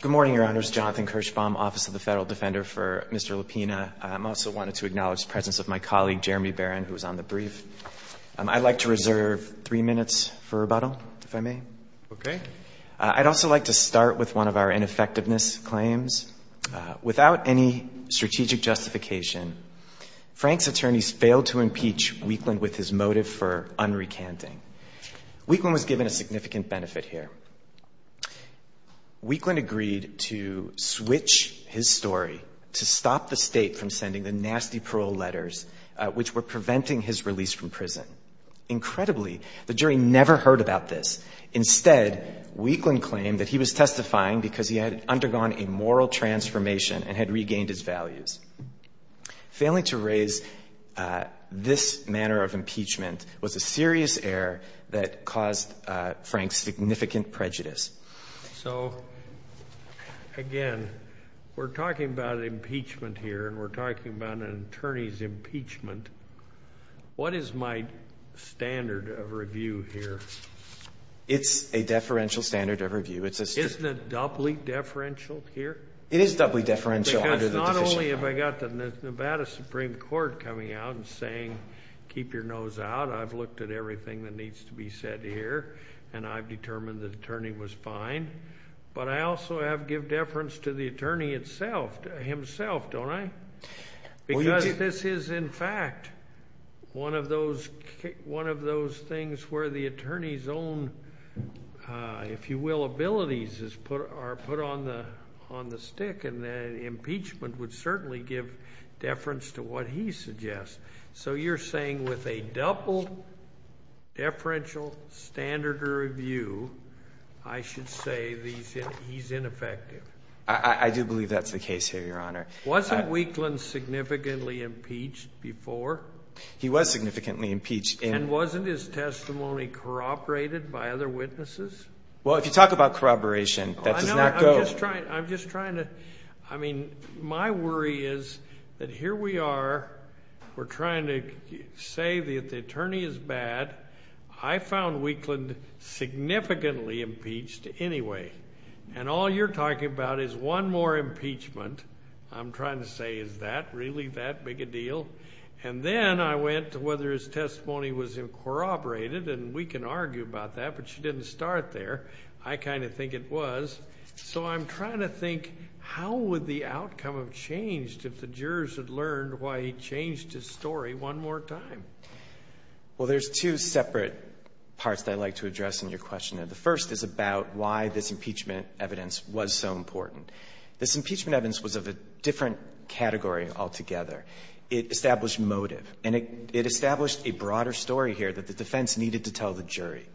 Good morning, Your Honors. Jonathan Kirschbaum, Office of the Federal Defender for Mr. LaPena. I also wanted to acknowledge the presence of my colleague Jeremy Barron, who was on the brief. I'd like to reserve three minutes for rebuttal, if I may. Okay. I'd also like to start with one of our ineffectiveness claims. Without any strategic justification, Frank's attorneys failed to impeach Weekland with his motive for unrecanting. Weekland was given a significant benefit here. Weekland agreed to switch his story to stop the state from sending the nasty parole letters which were preventing his release from prison. Incredibly, the jury never heard about this. Instead, Weekland claimed that he was testifying because he had undergone a moral transformation and had regained his values. Failing to raise this manner of impeachment was a serious error that caused Frank significant prejudice. So, again, we're talking about impeachment here and we're talking about an attorney's impeachment. What is my standard of review here? It's a deferential standard of review. Isn't it doubly deferential here? It is doubly deferential. Because not only have I got the Nevada Supreme Court coming out and saying, keep your nose out. I've looked at everything that needs to be said here, and I've determined the attorney was fine. But I also have to give deference to the attorney himself, don't I? Because this is, in fact, one of those things where the attorney's own, if you will, abilities are put on the stick. And impeachment would certainly give deference to what he suggests. So you're saying with a double deferential standard of review, I should say he's ineffective. I do believe that's the case here, Your Honor. Wasn't Wheatland significantly impeached before? He was significantly impeached. And wasn't his testimony corroborated by other witnesses? Well, if you talk about corroboration, that does not go. I'm just trying to. I mean, my worry is that here we are. We're trying to say that the attorney is bad. I found Wheatland significantly impeached anyway. And all you're talking about is one more impeachment. I'm trying to say, is that really that big a deal? And then I went to whether his testimony was corroborated, and we can argue about that, but you didn't start there. I kind of think it was. So I'm trying to think, how would the outcome have changed if the jurors had learned why he changed his story one more time? Well, there's two separate parts that I'd like to address in your question. The first is about why this impeachment evidence was so important. This impeachment evidence was of a different category altogether. It established motive, and it established a broader story here that the defense needed to tell the jury.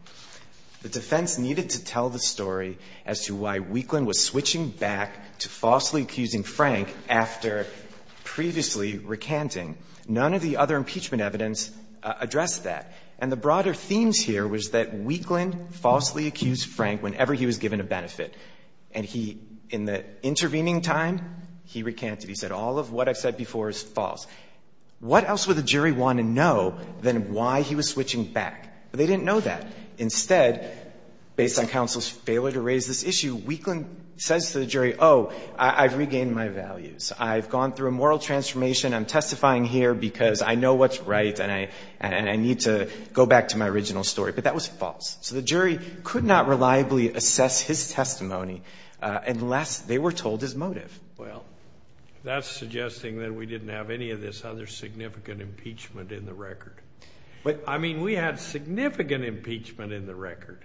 The defense needed to tell the story as to why Wheatland was switching back to falsely accusing Frank after previously recanting. None of the other impeachment evidence addressed that. And the broader themes here was that Wheatland falsely accused Frank whenever he was given a benefit. And he, in the intervening time, he recanted. He said, all of what I've said before is false. What else would the jury want to know than why he was switching back? They didn't know that. Instead, based on counsel's failure to raise this issue, Wheatland says to the jury, oh, I've regained my values. I've gone through a moral transformation. I'm testifying here because I know what's right, and I need to go back to my original story. But that was false. So the jury could not reliably assess his testimony unless they were told his motive. Well, that's suggesting that we didn't have any of this other significant impeachment in the record. But, I mean, we had significant impeachment in the record.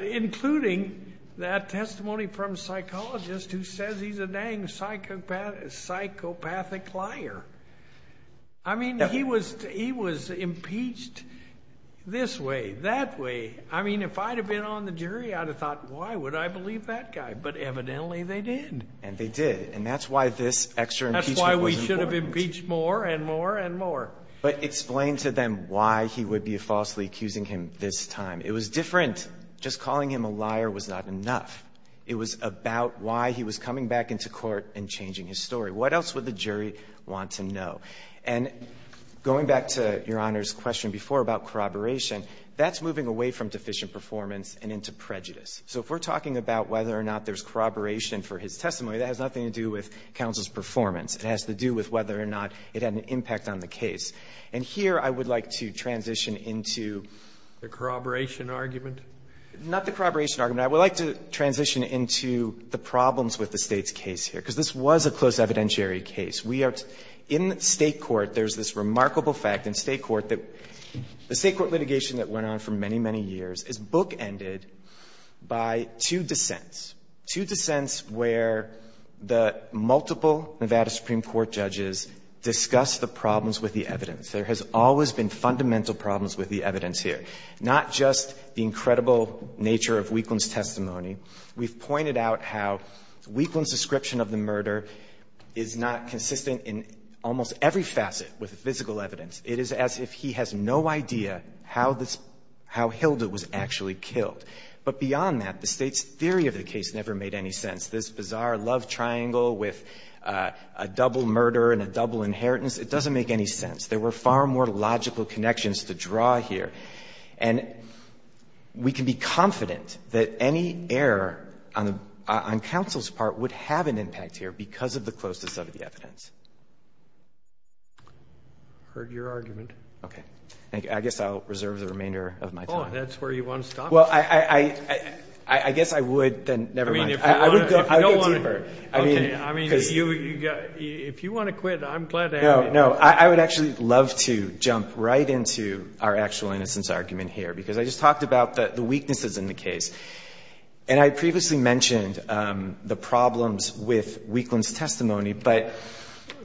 Including that testimony from a psychologist who says he's a dang psychopathic liar. I mean, he was impeached this way, that way. I mean, if I had been on the jury, I would have thought, why would I believe that guy? But evidently they did. And they did. And that's why this extra impeachment was important. That's why we should have impeached more and more and more. But explain to them why he would be falsely accusing him this time. It was different. Just calling him a liar was not enough. It was about why he was coming back into court and changing his story. What else would the jury want to know? And going back to Your Honor's question before about corroboration, that's moving away from deficient performance and into prejudice. So if we're talking about whether or not there's corroboration for his testimony, that has nothing to do with counsel's performance. It has to do with whether or not it had an impact on the case. And here I would like to transition into the corroboration argument. Not the corroboration argument. I would like to transition into the problems with the State's case here. Because this was a close evidentiary case. We are in State court. There's this remarkable fact in State court that the State court litigation that went on for many, many years is bookended by two dissents, two dissents where the multiple Nevada Supreme Court judges discussed the problems with the evidence. There has always been fundamental problems with the evidence here. Not just the incredible nature of Wheatland's testimony. We've pointed out how Wheatland's description of the murder is not consistent in almost every facet with the physical evidence. It is as if he has no idea how this — how Hilda was actually killed. But beyond that, the State's theory of the case never made any sense. This bizarre love triangle with a double murder and a double inheritance, it doesn't make any sense. There were far more logical connections to draw here. And we can be confident that any error on counsel's part would have an impact here because of the closeness of the evidence. I heard your argument. Okay. Thank you. I guess I'll reserve the remainder of my time. Oh, that's where you want to stop? Well, I guess I would then — never mind. I would go deeper. Okay. I mean, if you want to quit, I'm glad to have you. No, no. I would actually love to jump right into our actual innocence argument here because I just talked about the weaknesses in the case. And I previously mentioned the problems with Wheatland's testimony.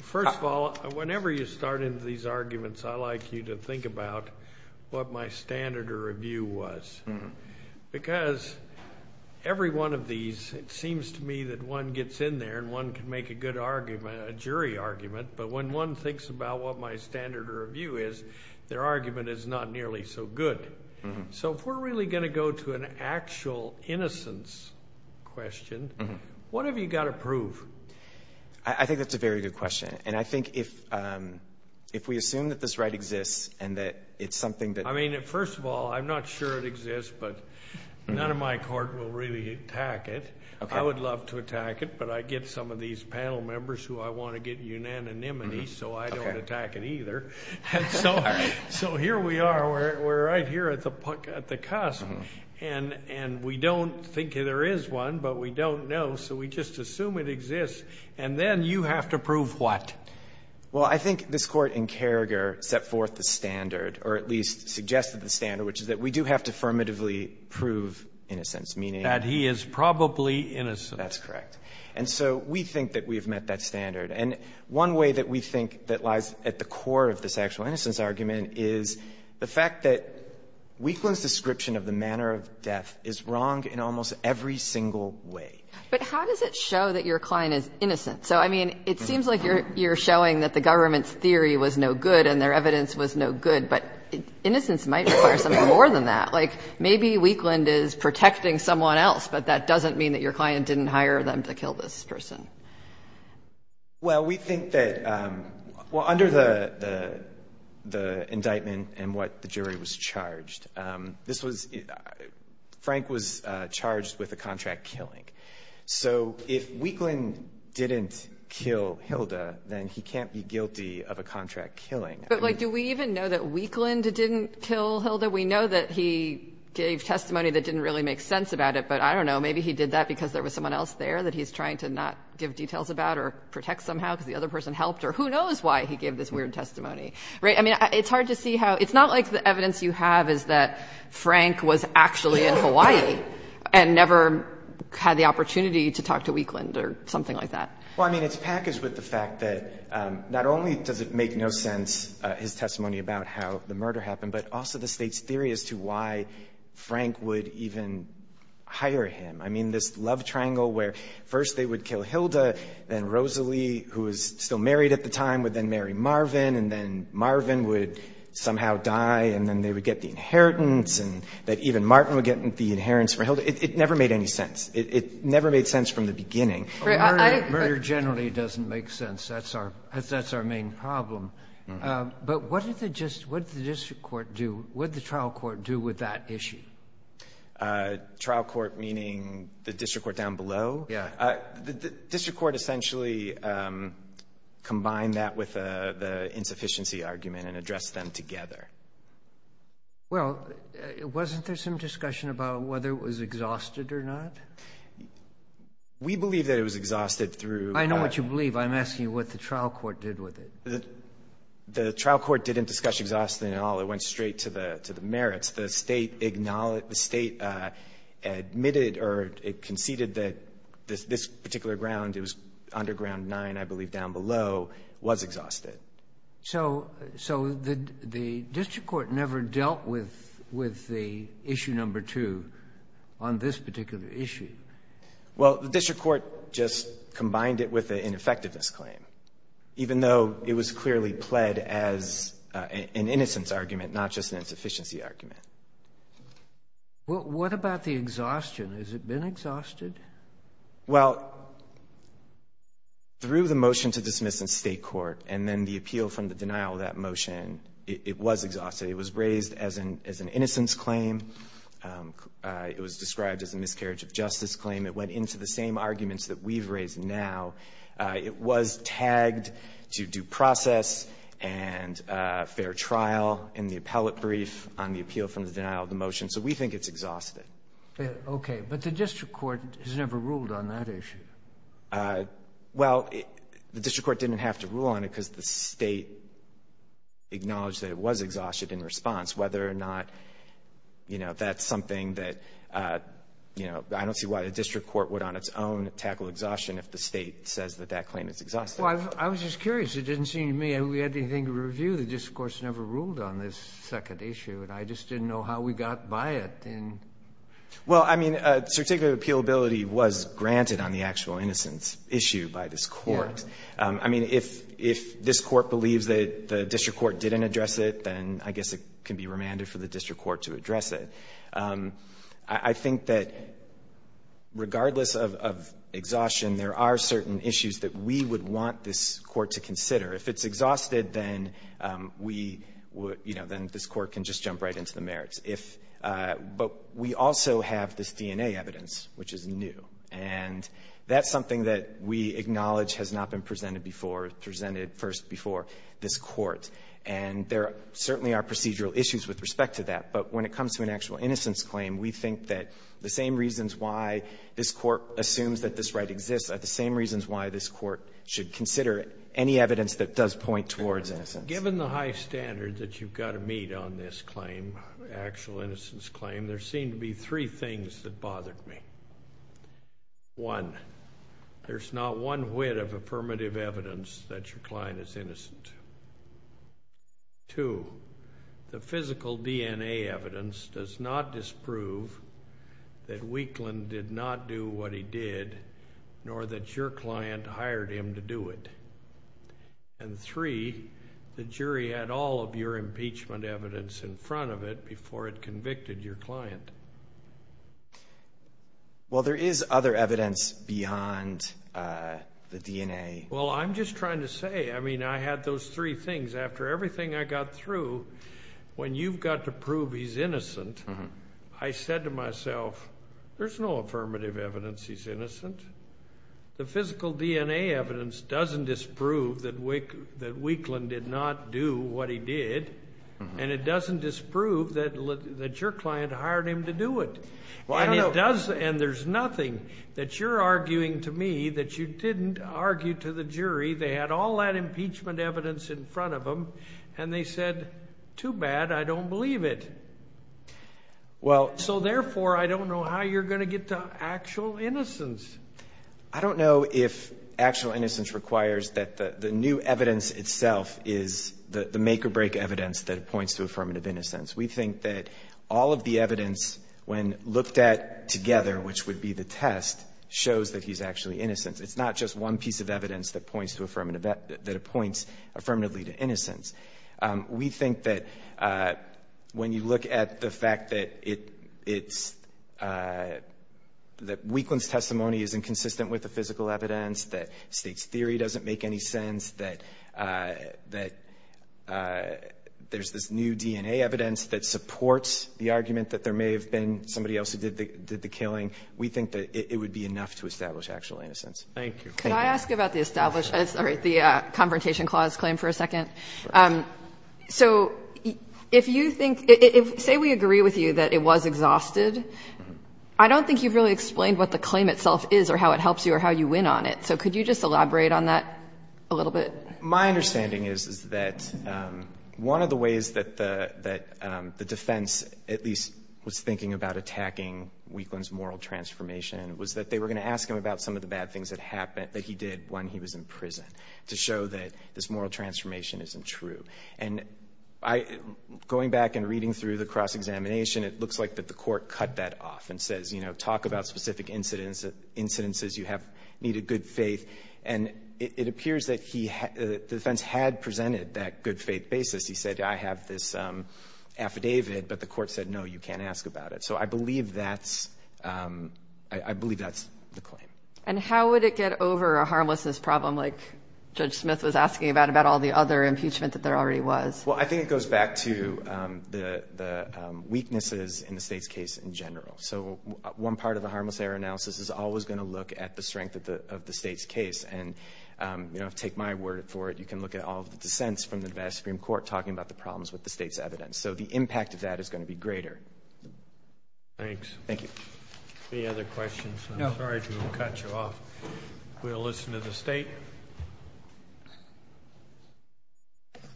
First of all, whenever you start into these arguments, I like you to think about what my standard of review was because every one of these, it seems to me that one gets in there and one can make a good argument, a jury argument, but when one thinks about what my standard of review is, their argument is not nearly so good. So if we're really going to go to an actual innocence question, what have you got to prove? I think that's a very good question. And I think if we assume that this right exists and that it's something that— I mean, first of all, I'm not sure it exists, but none of my court will really attack it. I would love to attack it, but I get some of these panel members who I want to get unanimity, so I don't attack it either. So here we are. We're right here at the cusp. And we don't think there is one, but we don't know, so we just assume it exists. And then you have to prove what? Well, I think this Court in Carragher set forth the standard, or at least suggested the standard, which is that we do have to affirmatively prove innocence, meaning— That he is probably innocent. That's correct. And so we think that we have met that standard. And one way that we think that lies at the core of the sexual innocence argument is the fact that Weekland's description of the manner of death is wrong in almost every single way. But how does it show that your client is innocent? So, I mean, it seems like you're showing that the government's theory was no good and their evidence was no good, but innocence might require something more than that. Like, maybe Weekland is protecting someone else, but that doesn't mean that your client didn't hire them to kill this person. Well, we think that—well, under the indictment and what the jury was charged, this was—Frank was charged with a contract killing. So if Weekland didn't kill Hilda, then he can't be guilty of a contract killing. But, like, do we even know that Weekland didn't kill Hilda? We know that he gave testimony that didn't really make sense about it, but I don't know. Maybe he did that because there was someone else there that he's trying to not give details about or protect somehow because the other person helped, or who knows why he gave this weird testimony, right? I mean, it's hard to see how—it's not like the evidence you have is that Frank was actually in Hawaii and never had the opportunity to talk to Weekland or something like that. Well, I mean, it's packaged with the fact that not only does it make no sense, his testimony about how the murder happened, but also the State's theory as to why Frank would even hire him. I mean, this love triangle where first they would kill Hilda, then Rosalie, who was still married at the time, would then marry Marvin, and then Marvin would somehow die, and then they would get the inheritance, and that even Martin would get the inheritance from Hilda. It never made any sense. It never made sense from the beginning. Murder generally doesn't make sense. That's our main problem. But what did the district court do? What did the trial court do with that issue? Trial court, meaning the district court down below? Yeah. The district court essentially combined that with the insufficiency argument and addressed them together. Well, wasn't there some discussion about whether it was exhausted or not? We believe that it was exhausted through. I know what you believe. I'm asking you what the trial court did with it. The trial court didn't discuss exhaustion at all. It went straight to the merits. The State admitted or conceded that this particular ground, it was Underground 9, I believe, down below, was exhausted. So the district court never dealt with the issue number 2 on this particular issue? Well, the district court just combined it with the ineffectiveness claim, even though it was clearly pled as an innocence argument, not just an insufficiency argument. Well, what about the exhaustion? Has it been exhausted? Well, through the motion to dismiss in State court and then the appeal from the denial of that motion, it was exhausted. It was raised as an innocence claim. It was described as a miscarriage of justice claim. It went into the same arguments that we've raised now. It was tagged to due process and fair trial in the appellate brief on the appeal from the denial of the motion. So we think it's exhausted. Okay. But the district court has never ruled on that issue. Well, the district court didn't have to rule on it because the State acknowledged that it was exhausted in response, whether or not that's something that, you know, I don't see why the district court would on its own tackle exhaustion if the State says that that claim is exhausted. Well, I was just curious. It didn't seem to me that we had anything to review. The district court's never ruled on this second issue, and I just didn't know how we got by it. Well, I mean, certificate of appealability was granted on the actual innocence issue by this court. I mean, if this court believes that the district court didn't address it, then I guess it can be remanded for the district court to address it. I think that regardless of exhaustion, there are certain issues that we would want this court to consider. If it's exhausted, then we would, you know, then this court can just jump right into the merits. But we also have this DNA evidence, which is new. And that's something that we acknowledge has not been presented before, presented first before this court. And there certainly are procedural issues with respect to that. But when it comes to an actual innocence claim, we think that the same reasons why this court assumes that this right exists are the same reasons why this court should consider any evidence that does point towards innocence. Given the high standards that you've got to meet on this claim, actual innocence claim, there seem to be three things that bothered me. One, there's not one whit of affirmative evidence that your client is innocent. Two, the physical DNA evidence does not disprove that Weakland did not do what he did, nor that your client hired him to do it. And three, the jury had all of your impeachment evidence in front of it before it convicted your client. Well, I'm just trying to say, I mean, I had those three things. After everything I got through, when you've got to prove he's innocent, I said to myself, there's no affirmative evidence he's innocent. The physical DNA evidence doesn't disprove that Weakland did not do what he did, and it doesn't disprove that your client hired him to do it. And there's nothing that you're arguing to me that you didn't argue to the jury. They had all that impeachment evidence in front of them, and they said, too bad, I don't believe it. So therefore, I don't know how you're going to get to actual innocence. I don't know if actual innocence requires that the new evidence itself is the make-or-break evidence that points to affirmative innocence. We think that all of the evidence, when looked at together, which would be the test, shows that he's actually innocent. It's not just one piece of evidence that points affirmatively to innocence. We think that when you look at the fact that Weakland's testimony is inconsistent with the physical evidence, that State's theory doesn't make any sense, that there's this new DNA evidence that supports the argument that there may have been somebody else who did the killing, we think that it would be enough to establish actual innocence. Thank you. Could I ask about the confrontation clause claim for a second? Sure. So if you think, say we agree with you that it was exhausted, I don't think you've really explained what the claim itself is or how it helps you or how you win on it. So could you just elaborate on that a little bit? My understanding is that one of the ways that the defense at least was thinking about attacking Weakland's moral transformation was that they were going to ask him about some of the bad things that he did when he was in prison to show that this moral transformation isn't true. And going back and reading through the cross-examination, it looks like that the court cut that off and says, you know, And it appears that the defense had presented that good faith basis. He said, I have this affidavit, but the court said, no, you can't ask about it. So I believe that's the claim. And how would it get over a harmlessness problem like Judge Smith was asking about, about all the other impeachment that there already was? Well, I think it goes back to the weaknesses in the state's case in general. So one part of the harmless error analysis is always going to look at the strength of the state's case. And, you know, take my word for it, you can look at all the dissents from the Nevada Supreme Court talking about the problems with the state's evidence. So the impact of that is going to be greater. Thanks. Thank you. Any other questions? No. I'm sorry to have cut you off. We'll listen to the state. Good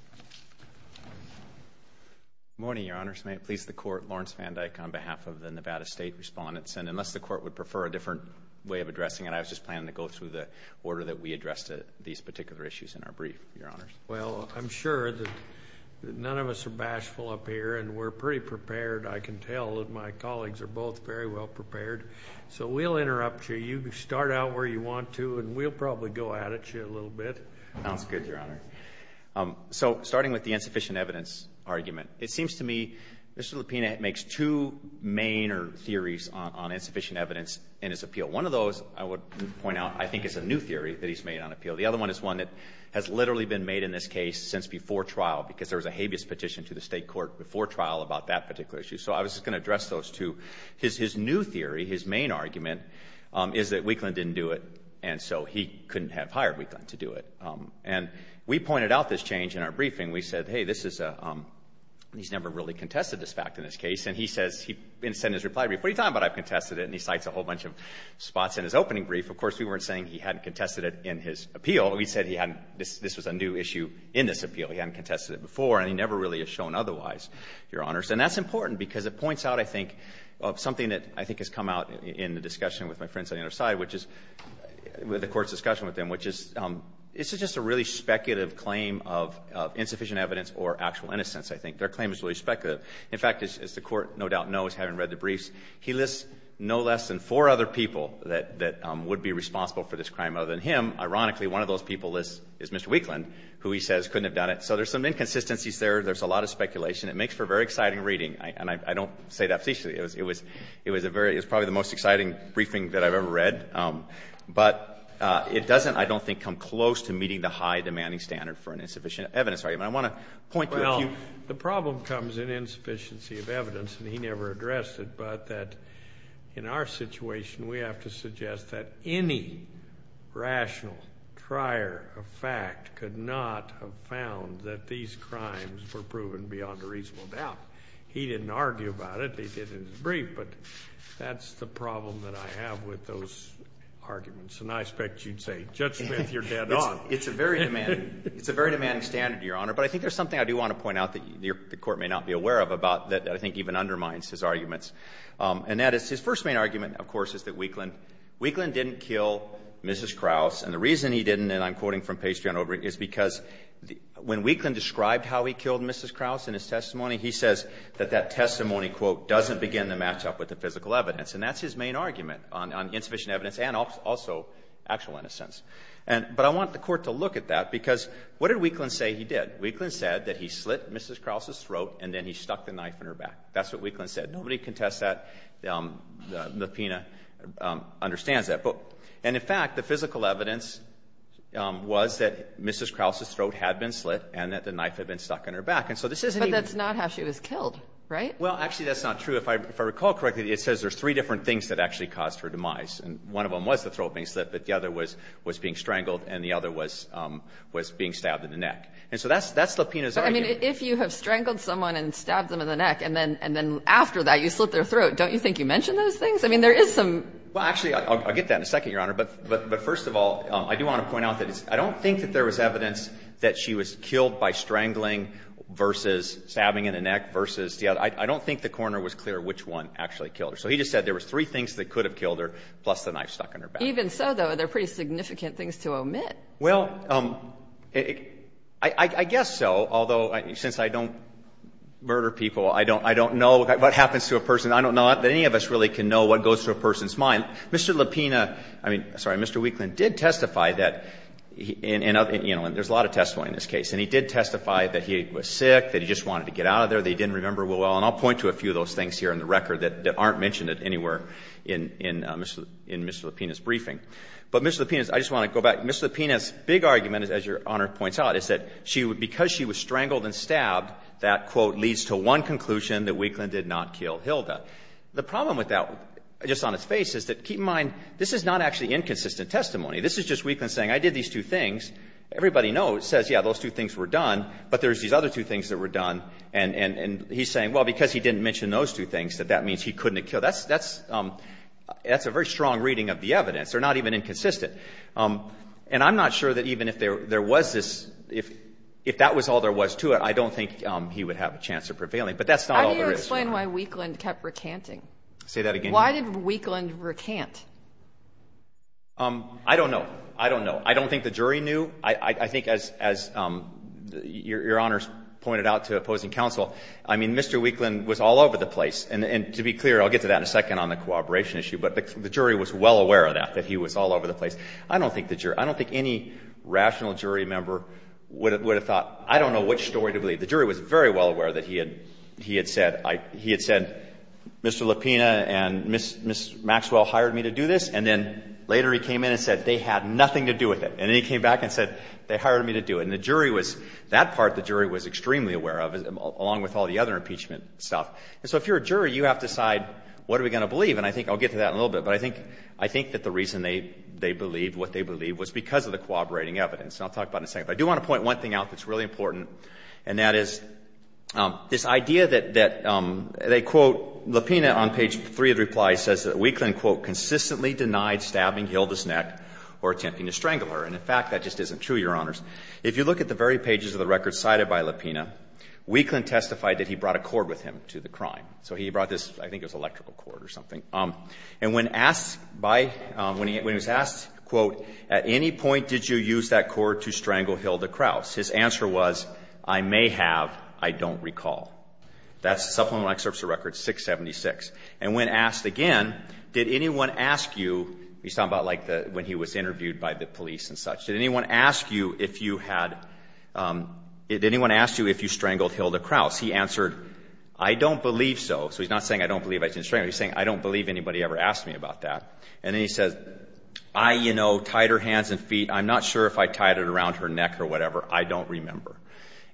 morning, Your Honors. May it please the Court. Lawrence Van Dyke on behalf of the Nevada State Respondents. And unless the Court would prefer a different way of addressing it, I was just planning to go through the order that we addressed these particular issues in our brief, Your Honors. Well, I'm sure that none of us are bashful up here, and we're pretty prepared. I can tell that my colleagues are both very well prepared. So we'll interrupt you. You can start out where you want to, and we'll probably go at it a little bit. Sounds good, Your Honor. So starting with the insufficient evidence argument, it seems to me Mr. Lupina makes two main theories on insufficient evidence in his appeal. One of those, I would point out, I think is a new theory that he's made on appeal. The other one is one that has literally been made in this case since before trial because there was a habeas petition to the State Court before trial about that particular issue. So I was just going to address those two. His new theory, his main argument, is that Weakland didn't do it, and so he couldn't have hired Weakland to do it. And we pointed out this change in our briefing. We said, hey, this is a, he's never really contested this fact in this case. And he says, in his reply brief, what are you talking about I've contested it? And he cites a whole bunch of spots in his opening brief. Of course, we weren't saying he hadn't contested it in his appeal. We said he hadn't, this was a new issue in this appeal. He hadn't contested it before, and he never really has shown otherwise, Your Honors. And that's important because it points out, I think, something that I think has come out in the discussion with my friends on the other side, which is with the Court's discussion with them, which is this is just a really speculative claim of insufficient evidence or actual innocence, I think. Their claim is really speculative. In fact, as the Court no doubt knows, having read the briefs, he lists no less than four other people that would be responsible for this crime other than him. Ironically, one of those people is Mr. Weakland, who he says couldn't have done it. So there's some inconsistencies there. There's a lot of speculation. It makes for very exciting reading. And I don't say that facetiously. It was probably the most exciting briefing that I've ever read. But it doesn't, I don't think, come close to meeting the high demanding standard for an insufficient evidence argument. I want to point to a few. Well, the problem comes in insufficiency of evidence, and he never addressed it, but that in our situation we have to suggest that any rational trier of fact could not have found that these crimes were proven beyond a reasonable doubt. He didn't argue about it. He did in his brief. But that's the problem that I have with those arguments. And I expect you'd say, Judge Smith, you're dead on. It's a very demanding standard, Your Honor. But I think there's something I do want to point out that the Court may not be aware of about that I think even undermines his arguments, and that is his first main argument, of course, is that Weakland didn't kill Mrs. Krauss. And the reason he didn't, and I'm quoting from Pastry on Obring, is because when Weakland described how he killed Mrs. Krauss in his testimony, he says that that doesn't begin to match up with the physical evidence. And that's his main argument on insufficient evidence and also actual innocence. But I want the Court to look at that, because what did Weakland say he did? Weakland said that he slit Mrs. Krauss' throat and then he stuck the knife in her back. That's what Weakland said. Nobody contests that. The PINA understands that. And in fact, the physical evidence was that Mrs. Krauss' throat had been slit and that the knife had been stuck in her back. And so this isn't even the case. But that's not how she was killed, right? Well, actually, that's not true. If I recall correctly, it says there's three different things that actually caused her demise. And one of them was the throat being slit, but the other was being strangled, and the other was being stabbed in the neck. And so that's the PINA's argument. But, I mean, if you have strangled someone and stabbed them in the neck, and then after that you slit their throat, don't you think you mention those things? I mean, there is some ---- Well, actually, I'll get to that in a second, Your Honor. But first of all, I do want to point out that I don't think that there was evidence that she was killed by strangling versus stabbing in the neck versus the other. I don't think the coroner was clear which one actually killed her. So he just said there were three things that could have killed her, plus the knife stuck in her back. Even so, though, they're pretty significant things to omit. Well, I guess so, although since I don't murder people, I don't know what happens to a person. I don't know that any of us really can know what goes through a person's mind. Mr. Lupina ---- I mean, sorry, Mr. Wheatland did testify that, you know, there's a lot of testimony in this case. And he did testify that he was sick, that he just wanted to get out of there, that he didn't remember well. And I'll point to a few of those things here in the record that aren't mentioned anywhere in Mr. Lupina's briefing. But Mr. Lupina's ---- I just want to go back. Mr. Lupina's big argument, as Your Honor points out, is that she ---- because she was strangled and stabbed, that, quote, leads to one conclusion, that Wheatland did not kill Hilda. The problem with that just on its face is that, keep in mind, this is not actually inconsistent testimony. This is just Wheatland saying, I did these two things. Everybody knows, says, yeah, those two things were done, but there's these other two things that were done. And he's saying, well, because he didn't mention those two things, that that means he couldn't have killed. That's a very strong reading of the evidence. They're not even inconsistent. And I'm not sure that even if there was this ---- if that was all there was to it, I don't think he would have a chance of prevailing. But that's not all there is. How do you explain why Wheatland kept recanting? Say that again. Why did Wheatland recant? I don't know. I don't know. And the other thing I would say is that the jury, as you know, didn't believe it. So the jury knew. I think as your Honor pointed out to opposing counsel, I mean, Mr. Wheatland was all over the place. And to be clear, I'll get to that in a second on the cooperation issue, but the jury was well aware of that, that he was all over the place. I don't think the jury, I don't think any rational jury member would have thought, I don't know which story to believe. The jury was very well aware that he had said, he had said, Mr. Lapina and Ms. Maxwell hired me to do this. And then later he came in and said they had nothing to do with it. And then he came back and said they hired me to do it. And the jury was, that part the jury was extremely aware of, along with all the other impeachment stuff. And so if you're a jury, you have to decide what are we going to believe. And I think I'll get to that in a little bit. But I think, I think that the reason they believed what they believed was because of the corroborating evidence. And I'll talk about it in a second. But I do want to point one thing out that's really important, and that is this idea that they quote Lapina on page 3 of the reply says that Wheatland, quote, consistently denied stabbing Hilda's neck or attempting to strangle her. And in fact, that just isn't true, Your Honors. If you look at the very pages of the record cited by Lapina, Wheatland testified that he brought a cord with him to the crime. So he brought this, I think it was electrical cord or something. And when asked by, when he was asked, quote, at any point did you use that cord to strangle Hilda Kraus? His answer was, I may have. I don't recall. That's Supplemental Excerpts of Records 676. And when asked again, did anyone ask you, he's talking about like when he was interviewed by the police and such. Did anyone ask you if you had, did anyone ask you if you strangled Hilda Kraus? He answered, I don't believe so. So he's not saying I don't believe I didn't strangle her. He's saying, I don't believe anybody ever asked me about that. And then he says, I, you know, tied her hands and feet. I'm not sure if I tied it around her neck or whatever. I don't remember.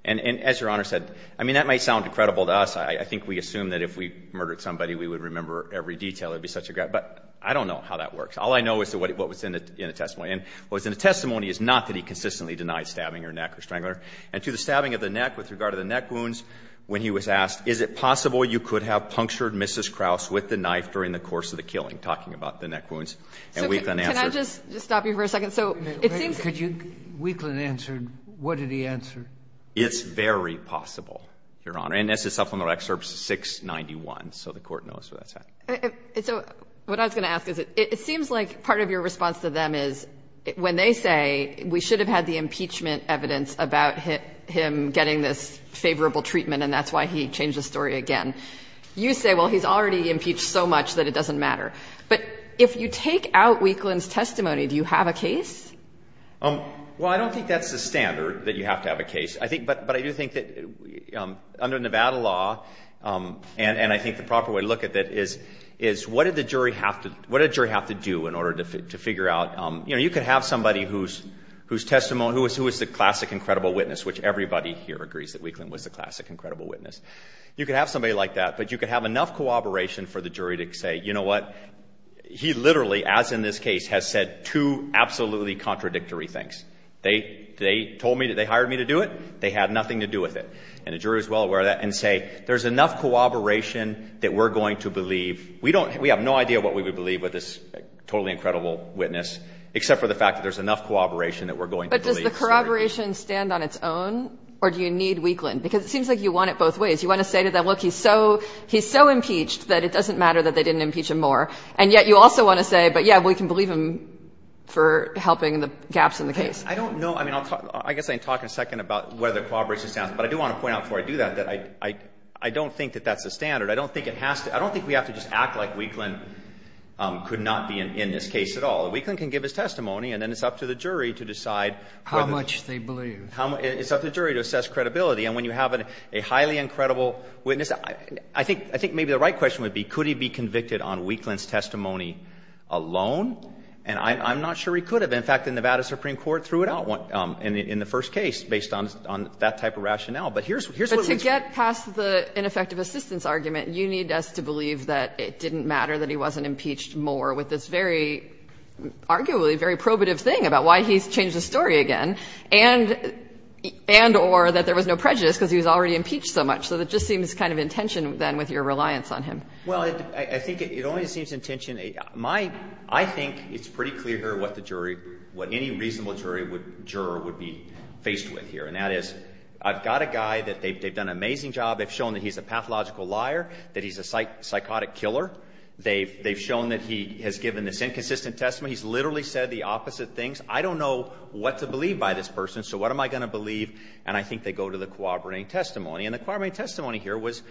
And as Your Honor said, I mean, that might sound incredible to us. I think we assume that if we murdered somebody, we would remember every detail. It would be such a great, but I don't know how that works. All I know is what was in the testimony. And what was in the testimony is not that he consistently denied stabbing her neck or strangling her. And to the stabbing of the neck with regard to the neck wounds, when he was asked, is it possible you could have punctured Mrs. Kraus with the knife during the course of the killing, talking about the neck wounds? And Wheatland answered. So can I just stop you for a second? So it seems. Could you? Wheatland answered. What did he answer? It's very possible, Your Honor. And this is supplemental excerpt 691. So the Court knows where that's at. So what I was going to ask is, it seems like part of your response to them is when they say we should have had the impeachment evidence about him getting this favorable treatment and that's why he changed the story again. You say, well, he's already impeached so much that it doesn't matter. But if you take out Wheatland's testimony, do you have a case? Well, I don't think that's the standard, that you have to have a case. But I do think that under Nevada law, and I think the proper way to look at it is, what did the jury have to do in order to figure out, you know, you could have somebody whose testimony, who was the classic incredible witness, which everybody here agrees that Wheatland was the classic incredible witness. You could have somebody like that, but you could have enough cooperation for the jury to say, you know what? He literally, as in this case, has said two absolutely contradictory things. They told me that they hired me to do it. They had nothing to do with it. And the jury is well aware of that and say, there's enough cooperation that we're going to believe. We have no idea what we would believe with this totally incredible witness, except for the fact that there's enough cooperation that we're going to believe. So does the corroboration stand on its own, or do you need Wheatland? Because it seems like you want it both ways. You want to say to them, look, he's so impeached that it doesn't matter that they didn't impeach him more. And yet you also want to say, but, yeah, we can believe him for helping the gaps in the case. I don't know. I mean, I guess I can talk in a second about whether corroboration stands. But I do want to point out before I do that, that I don't think that that's the standard. I don't think it has to be. I don't think we have to just act like Wheatland could not be in this case at all. Wheatland can give his testimony, and then it's up to the jury to decide whether or not they believe. How much they believe. It's up to the jury to assess credibility. And when you have a highly incredible witness, I think maybe the right question would be, could he be convicted on Wheatland's testimony alone? And I'm not sure he could have. In fact, the Nevada Supreme Court threw it out in the first case based on that type of rationale. But here's what we can say. But to get past the ineffective assistance argument, you need us to believe that it didn't matter that he wasn't impeached more with this very arguably very probative thing about why he's changed the story again, and or that there was no prejudice because he was already impeached so much. So it just seems kind of intention, then, with your reliance on him. Well, I think it only seems intention. My — I think it's pretty clear here what the jury — what any reasonable jury would — juror would be faced with here. And that is, I've got a guy that they've done an amazing job. They've shown that he's a pathological liar, that he's a psychotic killer. They've shown that he has given this inconsistent testimony. He's literally said the opposite things. I don't know what to believe by this person, so what am I going to believe? And I think they go to the corroborating testimony. And the corroborating testimony here was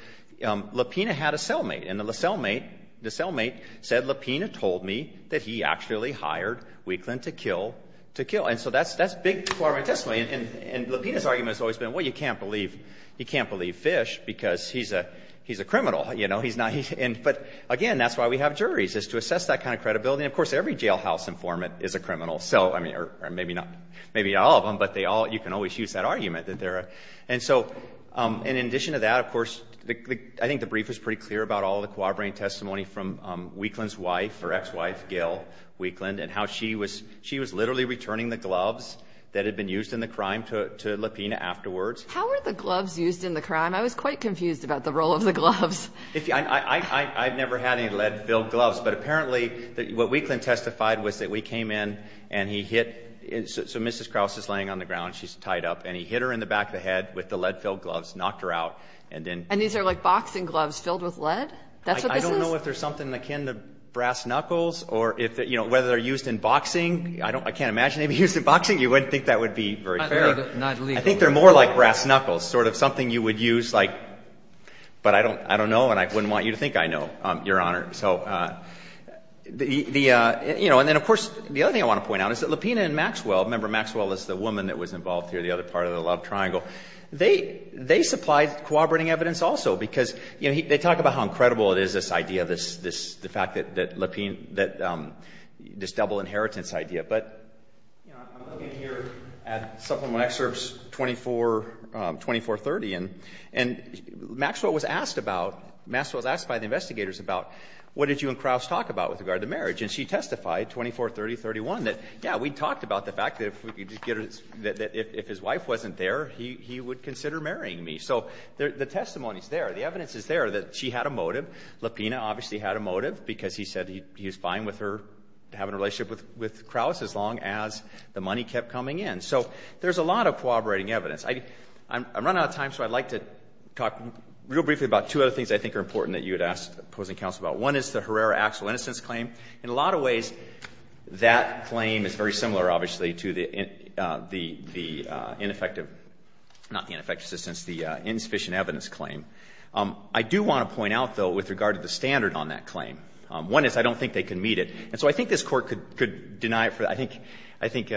LaPina had a cellmate. And the cellmate — the cellmate said, LaPina told me that he actually hired Wheatland to kill to kill. And so that's — that's big corroborating testimony. And LaPina's argument has always been, well, you can't believe — you can't believe Fish because he's a — he's a criminal, you know. He's not — and — but, again, that's why we have juries, is to assess that kind of credibility. And, of course, every jailhouse informant is a criminal. So, I mean, or maybe not — maybe not all of them, but they all — you can always use that argument that they're — and so — and in addition to that, of course, I think the brief was pretty clear about all the corroborating testimony from Wheatland's wife or ex-wife, Gail Wheatland, and how she was — she was literally returning the gloves that had been used in the crime to LaPina afterwards. How were the gloves used in the crime? I was quite confused about the role of the gloves. I've never had any lead-filled gloves, but apparently what Wheatland testified was that we came in and he hit — so Mrs. Krause is laying on the ground. She's tied up. And he hit her in the back of the head with the lead-filled gloves, knocked her out, and then — And these are like boxing gloves filled with lead? That's what this is? I don't know if there's something akin to brass knuckles or if — you know, whether they're used in boxing. I don't — I can't imagine they'd be used in boxing. You wouldn't think that would be very fair. I think they're more like brass knuckles, sort of something you would use like But I don't know, and I wouldn't want you to think I know, Your Honor. So, you know, and then, of course, the other thing I want to point out is that LaPina and Maxwell — remember, Maxwell is the woman that was involved here, the other part of the love triangle. They supplied corroborating evidence also because, you know, they talk about how incredible it is, this idea, this — the fact that LaPina — that — this double inheritance idea. But, you know, I'm looking here at Supplemental Excerpts 2430, and Maxwell was asked about — Maxwell was asked by the investigators about what did you and Krauss talk about with regard to marriage? And she testified, 2430-31, that, yeah, we talked about the fact that if we could get — that if his wife wasn't there, he would consider marrying me. So the testimony is there. The evidence is there that she had a motive. LaPina obviously had a motive because he said he was fine with her having a relationship with Krauss as long as the money kept coming in. So there's a lot of corroborating evidence. I'm running out of time, so I'd like to talk real briefly about two other things I think are important that you had asked the opposing counsel about. One is the Herrera-Axel innocence claim. In a lot of ways, that claim is very similar, obviously, to the ineffective — not the ineffective assistance, the insufficient evidence claim. I do want to point out, though, with regard to the standard on that claim. One is I don't think they can meet it. And so I think this Court could deny it for — I think — I think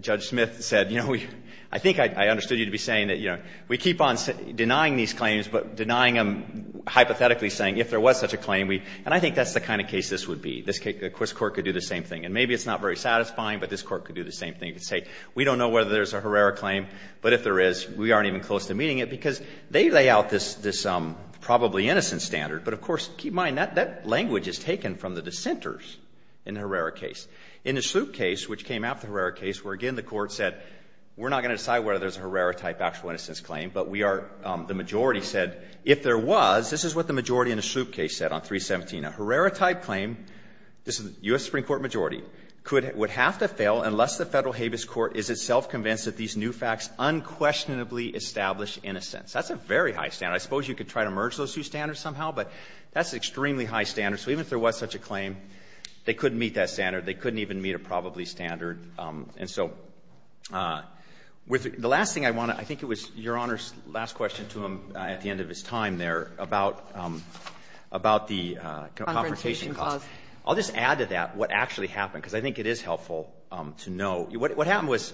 Judge Smith said, you know, we — I think I understood you to be saying that, you know, we keep on denying these claims, but denying them hypothetically saying if there was such a claim, we — and I think that's the kind of case this would be. This Court could do the same thing. And maybe it's not very satisfying, but this Court could do the same thing. It could say we don't know whether there's a Herrera claim, but if there is, we aren't even close to meeting it, because they lay out this probably innocent standard. But of course, keep in mind, that language is taken from the dissenters in the Herrera case. In the Sloop case, which came after the Herrera case, where again the Court said we're not going to decide whether there's a Herrera-type actual innocence claim, but we are — the majority said if there was, this is what the majority in the Sloop case said on 317, a Herrera-type claim, this is the U.S. Supreme Court majority, could — would have to fail unless the Federal Habeas Court is itself convinced that these new facts unquestionably establish innocence. That's a very high standard. I suppose you could try to merge those two standards somehow, but that's an extremely high standard. So even if there was such a claim, they couldn't meet that standard. They couldn't even meet a probably standard. And so with the last thing I want to — I think it was Your Honor's last question to him at the end of his time there about the confrontation clause. I'll just add to that what actually happened, because I think it is helpful to know. What happened was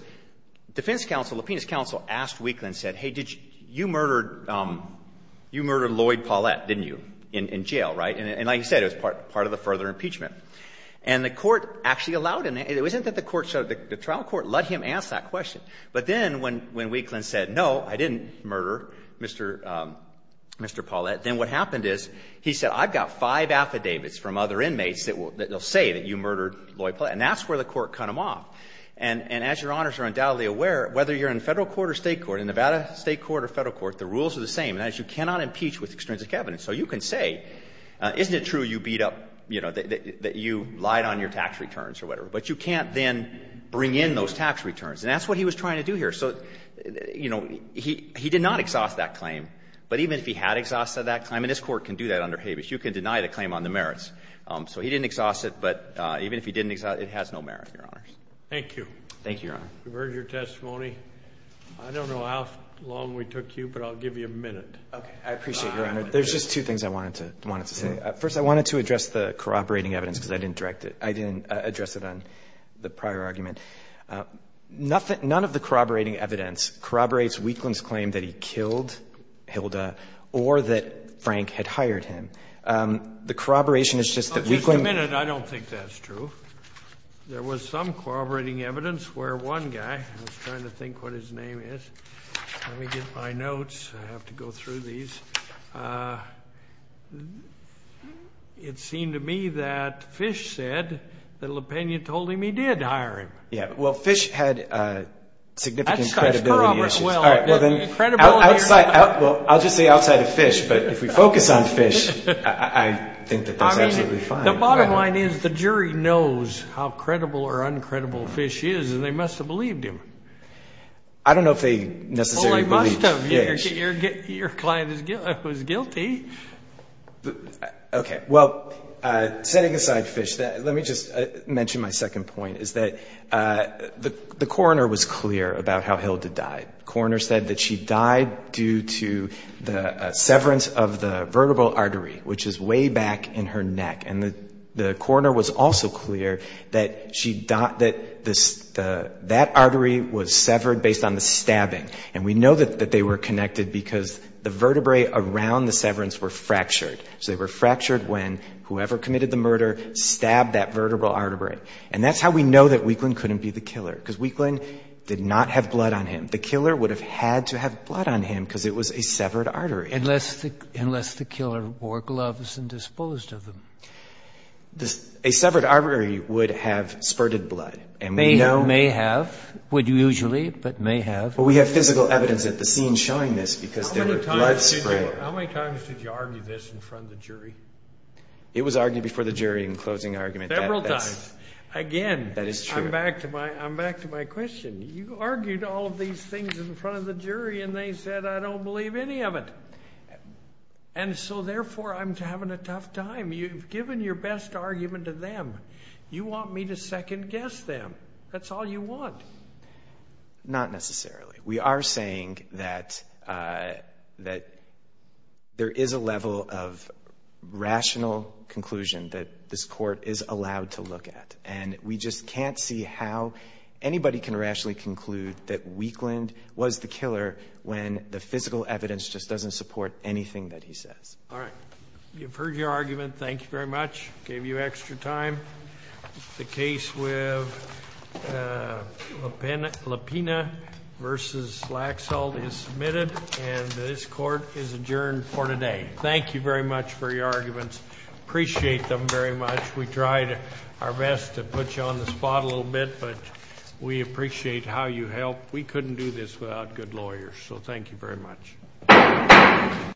defense counsel, Lupien's counsel, asked Weakland and said, hey, did you — you murdered Lloyd Paulette, didn't you, in jail, right? And like he said, it was part of the further impeachment. And the court actually allowed — it wasn't that the court — the trial court let him ask that question. But then when Weakland said, no, I didn't murder Mr. — Mr. Paulette, then what happened is he said, I've got five affidavits from other inmates that will — that will say that you murdered Lloyd Paulette. And that's where the court cut him off. And as Your Honors are undoubtedly aware, whether you're in Federal court or State court, in Nevada State court or Federal court, the rules are the same. You cannot impeach with extrinsic evidence. So you can say, isn't it true you beat up — you know, that you lied on your tax returns or whatever. But you can't then bring in those tax returns. And that's what he was trying to do here. So, you know, he did not exhaust that claim. But even if he had exhausted that claim — and this Court can do that under Habeas. You can deny the claim on the merits. So he didn't exhaust it, but even if he didn't exhaust it, it has no merit, Your Honors. Thank you. Thank you, Your Honor. We've heard your testimony. I don't know how long we took you, but I'll give you a minute. Okay. I appreciate it, Your Honor. There's just two things I wanted to say. First, I wanted to address the corroborating evidence, because I didn't direct it. I didn't address it on the prior argument. None of the corroborating evidence corroborates Weakland's claim that he killed Hilda or that Frank had hired him. The corroboration is just that Weakland — Just a minute. I don't think that's true. There was some corroborating evidence where one guy was trying to think what his name Let me get my notes. I have to go through these. It seemed to me that Fish said that LaPena told him he did hire him. Yeah. Well, Fish had significant credibility issues. That's corroborated well. Credibility. Well, I'll just say outside of Fish, but if we focus on Fish, I think that that's absolutely fine. The bottom line is the jury knows how credible or uncredible Fish is, and they must have believed him. I don't know if they necessarily believed Fish. Your client was guilty. Okay. Well, setting aside Fish, let me just mention my second point, is that the coroner was clear about how Hilda died. The coroner said that she died due to the severance of the vertebral artery, which is way back in her neck. And the coroner was also clear that that artery was severed based on the fact that they were connected because the vertebrae around the severance were fractured. So they were fractured when whoever committed the murder stabbed that vertebral artery. And that's how we know that Weakland couldn't be the killer, because Weakland did not have blood on him. The killer would have had to have blood on him because it was a severed artery. Unless the killer wore gloves and disposed of them. A severed artery would have spurted blood. May have. Would usually, but may have. Well, we have physical evidence at the scene showing this because there was blood spray. How many times did you argue this in front of the jury? It was argued before the jury in closing argument. Several times. Again. That is true. I'm back to my question. You argued all of these things in front of the jury, and they said, I don't believe any of it. And so, therefore, I'm having a tough time. You've given your best argument to them. You want me to second guess them. That's all you want. Not necessarily. We are saying that there is a level of rational conclusion that this Court is allowed to look at. And we just can't see how anybody can rationally conclude that Weakland was the killer when the physical evidence just doesn't support anything that he says. All right. You've heard your argument. Thank you very much. Gave you extra time. The case with Lepina v. Laxalt is submitted, and this Court is adjourned for today. Thank you very much for your arguments. Appreciate them very much. We tried our best to put you on the spot a little bit, but we appreciate how you helped. We couldn't do this without good lawyers, so thank you very much.